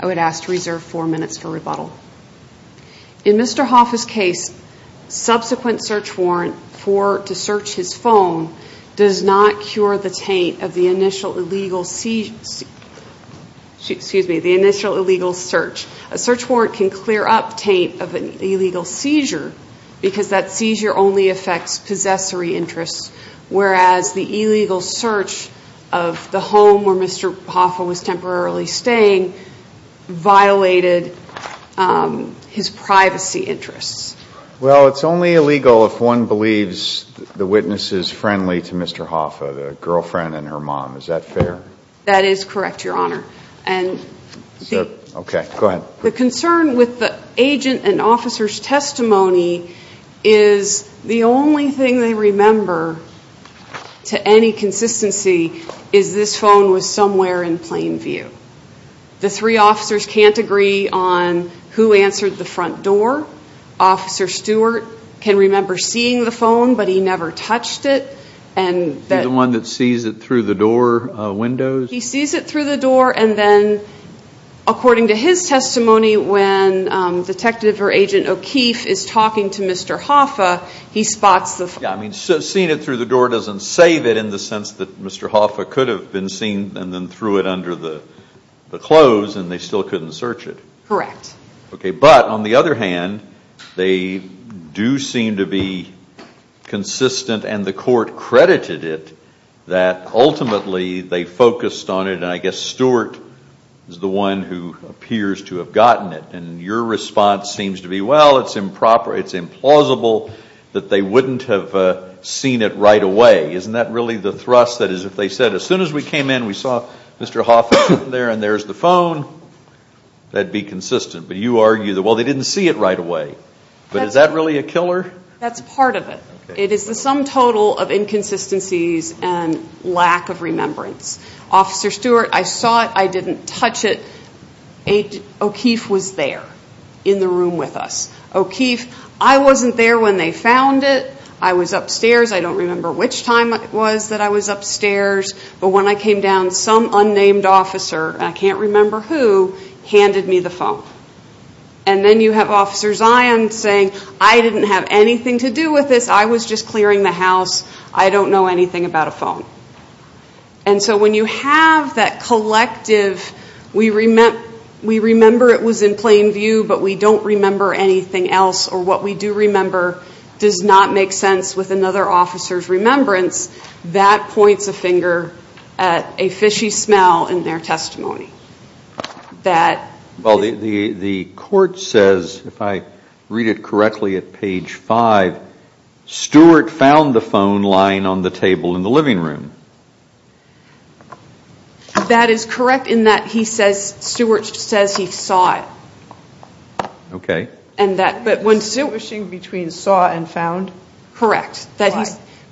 I would ask to reserve four minutes for rebuttal. In Mr. Hoffa's case, subsequent search warrant to search his phone does not cure the taint of the initial illegal search. A search warrant can clear up taint of an illegal seizure because that seizure only affects possessory interests, whereas the illegal search of the home where Mr. Hoffa was temporarily staying violated his privacy interests. Well, it's only illegal if one believes the witness is friendly to Mr. Hoffa, the girlfriend and her mom. Is that fair? That is correct, Your Honor. The concern with the agent and officer's testimony is the only thing they remember to any consistency is this phone was somewhere in plain view. The three officers can't agree on who answered the front door. Officer Stewart can remember seeing the phone, but he never touched it. The one that sees it through the door windows? He sees it through the door and then, according to his testimony, when Detective or Agent O'Keefe is talking to Mr. Hoffa, he spots the phone. Seeing it through the door doesn't save it in the sense that Mr. Hoffa could have been seen and then threw it under the clothes and they still couldn't search it. Correct. But, on the other hand, they do seem to be consistent and the Court credited it that ultimately they focused on it and I guess Stewart is the one who appears to have gotten it and your response seems to be, well, it's improper, it's implausible that they wouldn't have seen it right away. Isn't that really the thrust that is if they said, as soon as we came in, we saw Mr. Hoffa there and there's the phone, that'd be consistent. But you argue that, well, they didn't see it right away. But is that really a killer? That's part of it. It is the sum total of inconsistencies and lack of remembrance. Officer Stewart, I saw it. I didn't touch it. O'Keefe was there in the room with us. O'Keefe, I wasn't there when they found it. I was upstairs. I don't remember which time it was that I was upstairs, but when I came down, some unnamed officer, I can't remember who, handed me the phone. And then you have Officer Zion saying, I didn't have anything to do with this. I was just clearing the house. I don't know anything about a phone. So when you have that collective, we remember it was in plain view, but we don't remember anything else or what we do remember does not make sense with another officer's remembrance, that points a finger at a fishy smell in their testimony. Well, the court says, if I read it correctly at page five, Stewart found the phone lying on the table in the living room. That is correct in that he says, Stewart says he saw it. Okay. And that, but when You're distinguishing between saw and found? Correct.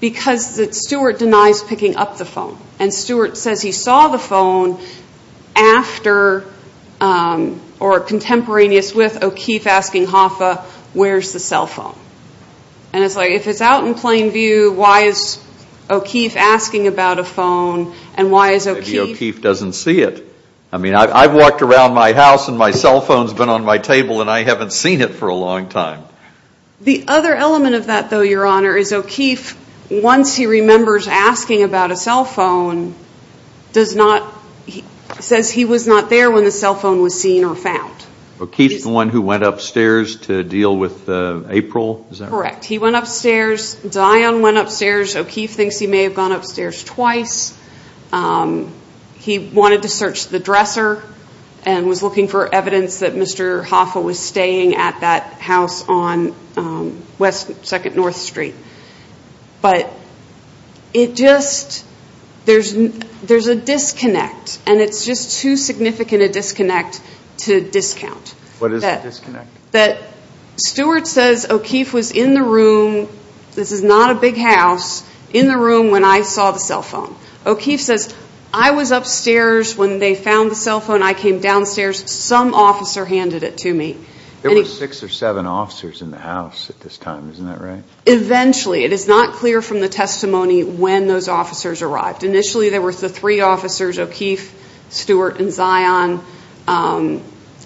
Because Stewart denies picking up the phone. And Stewart says he saw the phone after or contemporaneous with O'Keefe asking Hoffa, where's the cell phone? And it's like, if it's out in plain view, why is O'Keefe asking about a phone and why is O'Keefe doesn't see it? I mean, I've walked around my house and my cell phone's been on my table and I haven't seen it for a long time. The other element of that though, Your Honor, is O'Keefe, once he remembers asking about a cell phone, does not, says he was not there when the cell phone was seen or found. O'Keefe is the one who went upstairs to deal with April? Correct. He went upstairs. Dion went upstairs. O'Keefe thinks he may have gone upstairs twice. He wanted to search the dresser and was looking for evidence that Mr. Hoffa was staying at that house on 2nd North Street. But it just, there's a disconnect. And it's just too significant a disconnect to discount. What is the disconnect? That Stewart says O'Keefe was in the room, this is not a big house, in the room when I saw the upstairs, when they found the cell phone, I came downstairs, some officer handed it to me. There were six or seven officers in the house at this time, isn't that right? Eventually. It is not clear from the testimony when those officers arrived. Initially there were the three officers, O'Keefe, Stewart, and Zion.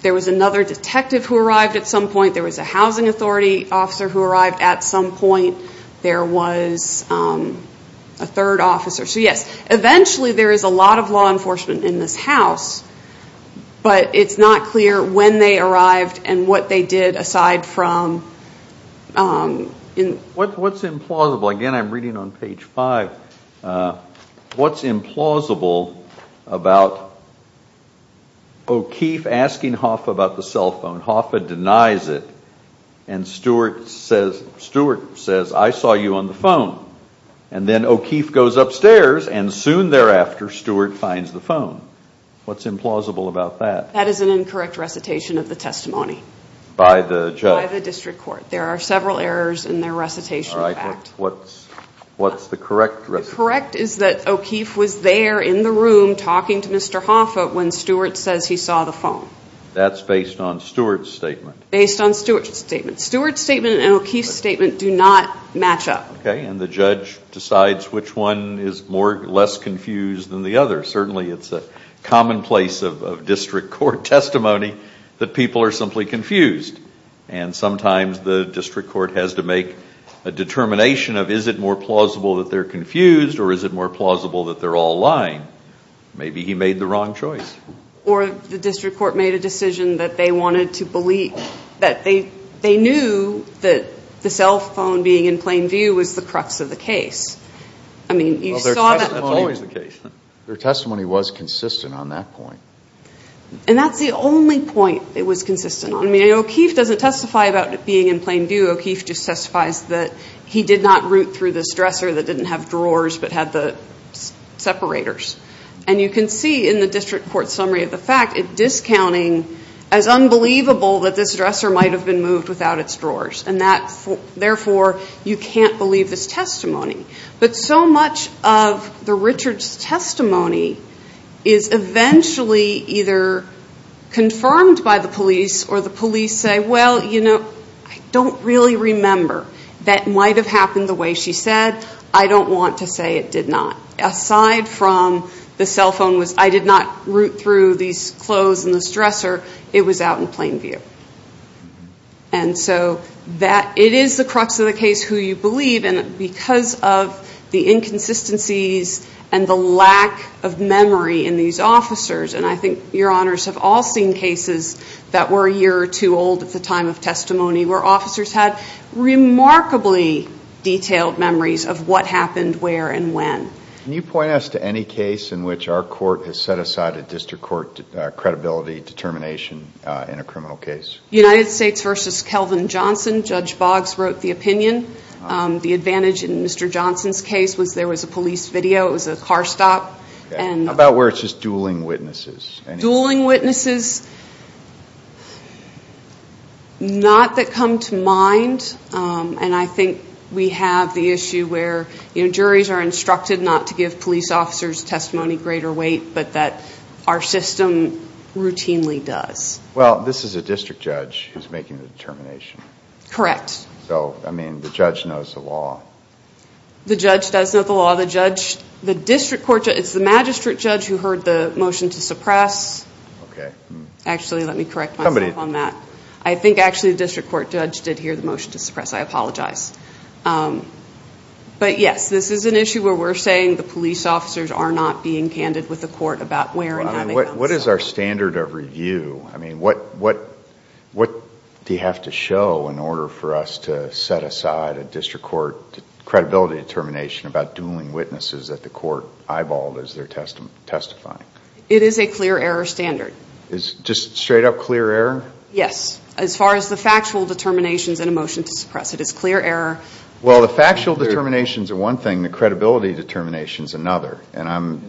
There was another detective who arrived at some point. There was a housing authority officer who arrived at some point. There was a third officer. So yes, eventually there is a lot of law enforcement in this house, but it's not clear when they arrived and what they did aside from... What's implausible, again I'm reading on page five, what's implausible about O'Keefe asking Hoffa about the cell phone, Hoffa denies it, and Stewart says, Stewart says, I saw you on the phone. And then O'Keefe goes upstairs and soon thereafter, Stewart finds the phone. What's implausible about that? That is an incorrect recitation of the testimony. By the judge? By the district court. There are several errors in their recitation. All right, what's the correct recitation? Correct is that O'Keefe was there in the room talking to Mr. Hoffa when Stewart says he saw the phone. That's based on Stewart's statement. Based on Stewart's statement. Stewart's statement and O'Keefe's statement do not match up. Okay, and the judge decides which one is less confused than the other. Certainly it's a commonplace of district court testimony that people are simply confused. And sometimes the is it more plausible that they're all lying? Maybe he made the wrong choice. Or the district court made a decision that they wanted to believe, that they knew that the cell phone being in plain view was the crux of the case. I mean, you saw that. That's always the case. Their testimony was consistent on that point. And that's the only point it was consistent on. I mean, O'Keefe doesn't testify about it being in plain view. O'Keefe just testifies that he did not root through this dresser that didn't have drawers but had the separators. And you can see in the district court summary of the fact, it's discounting as unbelievable that this dresser might have been moved without its drawers. And that, therefore, you can't believe this testimony. But so much of the Richards' testimony is eventually either confirmed by the police or the police say, well, you know, I don't really remember. That might have happened the way she said. I don't want to say it did not. Aside from the cell phone was, I did not root through these clothes and this dresser. It was out in plain view. And so that it is the crux of the case who you believe in because of the inconsistencies and the lack of memory in these officers. And I think your honors have all seen cases that were a year or two old at the time of testimony where officers had remarkably detailed memories of what happened where and when. Can you point us to any case in which our court has set aside a district court credibility determination in a criminal case? United States versus Kelvin Johnson. Judge Boggs wrote the opinion. The advantage in Mr. Johnson's case was there was a police video. It was a car stop. And about where it's just dueling witnesses. Dueling witnesses. Not that come to mind. And I think we have the issue where, you know, juries are instructed not to give police officers testimony greater weight, but that our system routinely does. Well, this is a district judge who's making the determination. Correct. So, I mean, the judge knows the law. The judge does know the law. The judge, the district court, it's the magistrate judge who motion to suppress. Okay. Actually, let me correct myself on that. I think actually the district court judge did hear the motion to suppress. I apologize. But yes, this is an issue where we're saying the police officers are not being candid with the court about where and how. What is our standard of review? I mean, what do you have to show in order for us to set aside a district court credibility determination about dueling witnesses that the court eyeballed as they're testifying? It is a clear error standard. It's just straight up clear error? Yes. As far as the factual determinations in a motion to suppress, it is clear error. Well, the factual determinations are one thing. The credibility determination is another. And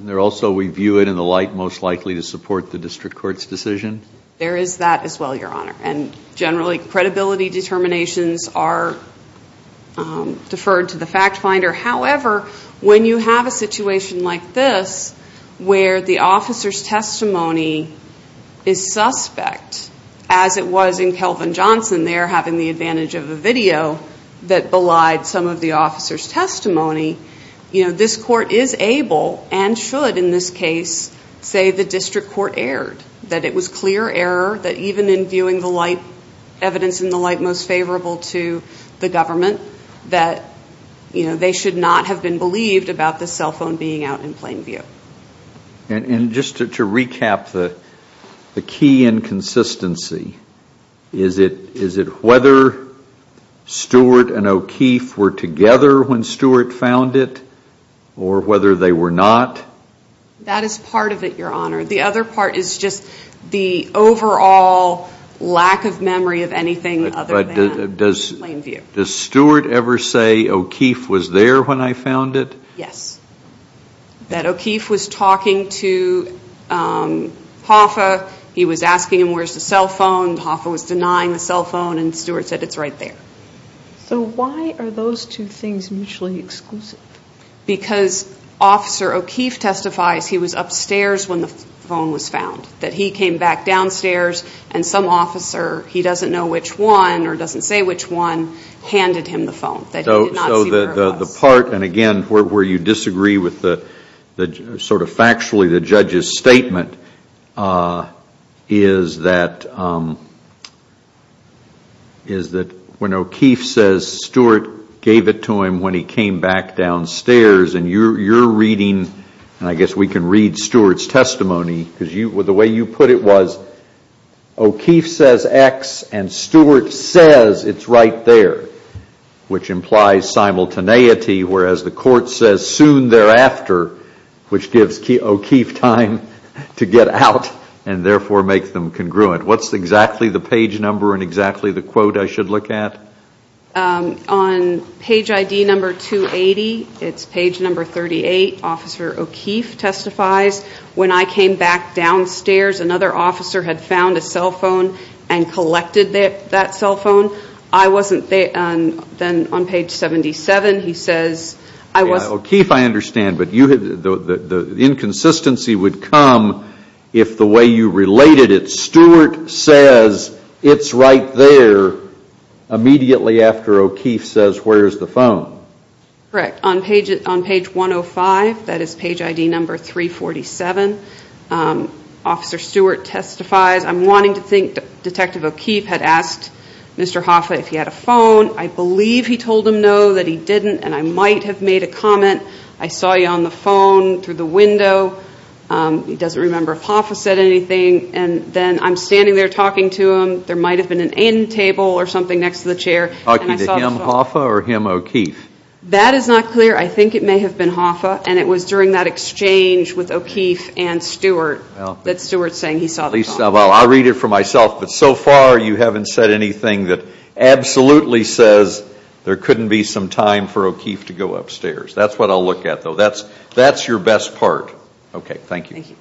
also, we view it in the light most likely to support the district court's decision? There is that as well, Your Honor. And generally, credibility determinations are to the fact finder. However, when you have a situation like this where the officer's testimony is suspect, as it was in Kelvin Johnson there having the advantage of a video that belied some of the officer's testimony, this court is able and should in this case say the district court erred. That it was clear error that even in viewing the light, evidence in the light most favorable to the government, that they should not have been believed about the cell phone being out in plain view. And just to recap the key inconsistency, is it whether Stewart and O'Keefe were together when Stewart found it or whether they were not? That is part of it, Your Honor. The other part is just the overall lack of memory of anything other than in plain view. Does Stewart ever say O'Keefe was there when I found it? Yes. That O'Keefe was talking to Hoffa, he was asking him where's the cell phone, Hoffa was denying the cell phone, and Stewart said it's right there. So why are those two things mutually exclusive? Because Officer O'Keefe testifies he was upstairs when the phone was found. That he came back downstairs and some officer, he doesn't know which one or doesn't say which one, handed him the phone. So the part, and again where you disagree with sort of factually the judge's statement, is that when O'Keefe says Stewart gave it to him when he came back downstairs and you're reading, and I guess we can read Stewart's testimony, because the way you put it was O'Keefe says X and Stewart says it's right there, which implies simultaneity, whereas the court says soon thereafter, which gives O'Keefe time to get out and therefore make them congruent. What's exactly the page number and exactly the quote I should look at? Um, on page ID number 280, it's page number 38, Officer O'Keefe testifies, when I came back downstairs another officer had found a cell phone and collected that cell phone. I wasn't there, and then on page 77 he says, I wasn't. O'Keefe I understand, but the inconsistency would come if the way you related it, immediately after O'Keefe says where's the phone. Correct, on page 105, that is page ID number 347, Officer Stewart testifies, I'm wanting to think Detective O'Keefe had asked Mr. Hoffa if he had a phone. I believe he told him no, that he didn't, and I might have made a comment. I saw you on the phone through the window. He doesn't remember if Hoffa said anything, and then I'm standing there talking to him. There might have been an end table or something next to the chair. Talking to him, Hoffa, or him, O'Keefe? That is not clear. I think it may have been Hoffa, and it was during that exchange with O'Keefe and Stewart that Stewart's saying he saw the phone. I'll read it for myself, but so far you haven't said anything that absolutely says there couldn't be some time for O'Keefe to go upstairs. That's what I'll look at though. That's, that's your best part. Okay, thank you. Thank you.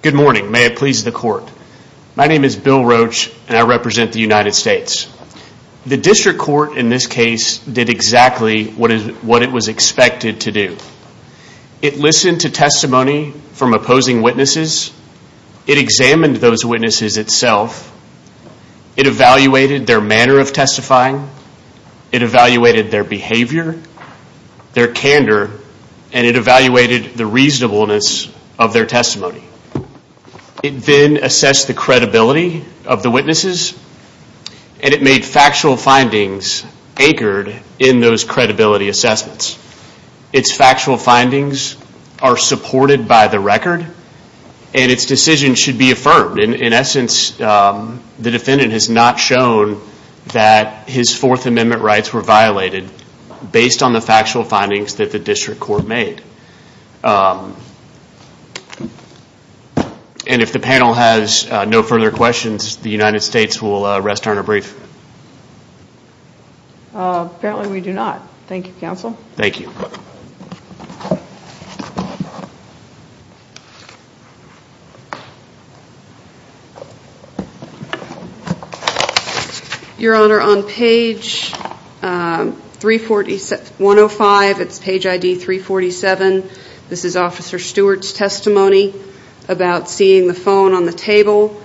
Good morning. May it please the court. My name is Bill Roach, and I represent the United States. The district court in this case did exactly what it was expected to do. It listened to testimony from opposing witnesses. It examined those witnesses itself. It evaluated their manner of testifying. It evaluated their behavior, their candor, and it evaluated the reasonableness of their testimony. It then assessed the credibility of the witnesses, and it made factual findings anchored in those credibility assessments. Its factual findings are supported by the record, and its decision should be affirmed. In essence, the defendant has not shown that his Fourth Amendment rights were violated based on the factual findings that the district court made. And if the panel has no further questions, the United States will rest on a brief. Apparently we do not. Thank you, counsel. Thank you. Your Honor, on page 105, it's page ID 347. This is Officer Stewart's testimony about seeing the phone on the table.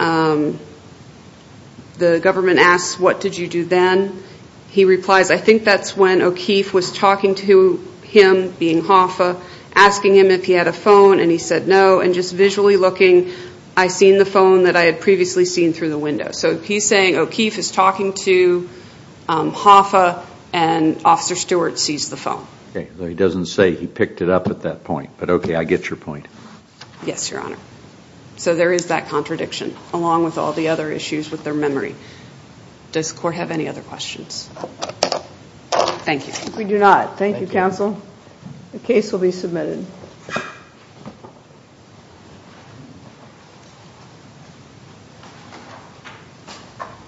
The government asks, what did you do then? He replies, I think that's when O'Keefe was talking to him, being Hoffa, asking him if he had a phone, and he said no, and just visually looking, I seen the phone that I had previously seen through the window. So he's saying O'Keefe is talking to Hoffa, and Officer Stewart sees the phone. He doesn't say he picked it up at that point, but okay, I get your point. Yes, Your Honor. So there is that contradiction, along with all the other issues with their memory. Does the court have any other questions? Thank you. We do not. Thank you, counsel. The case will be submitted.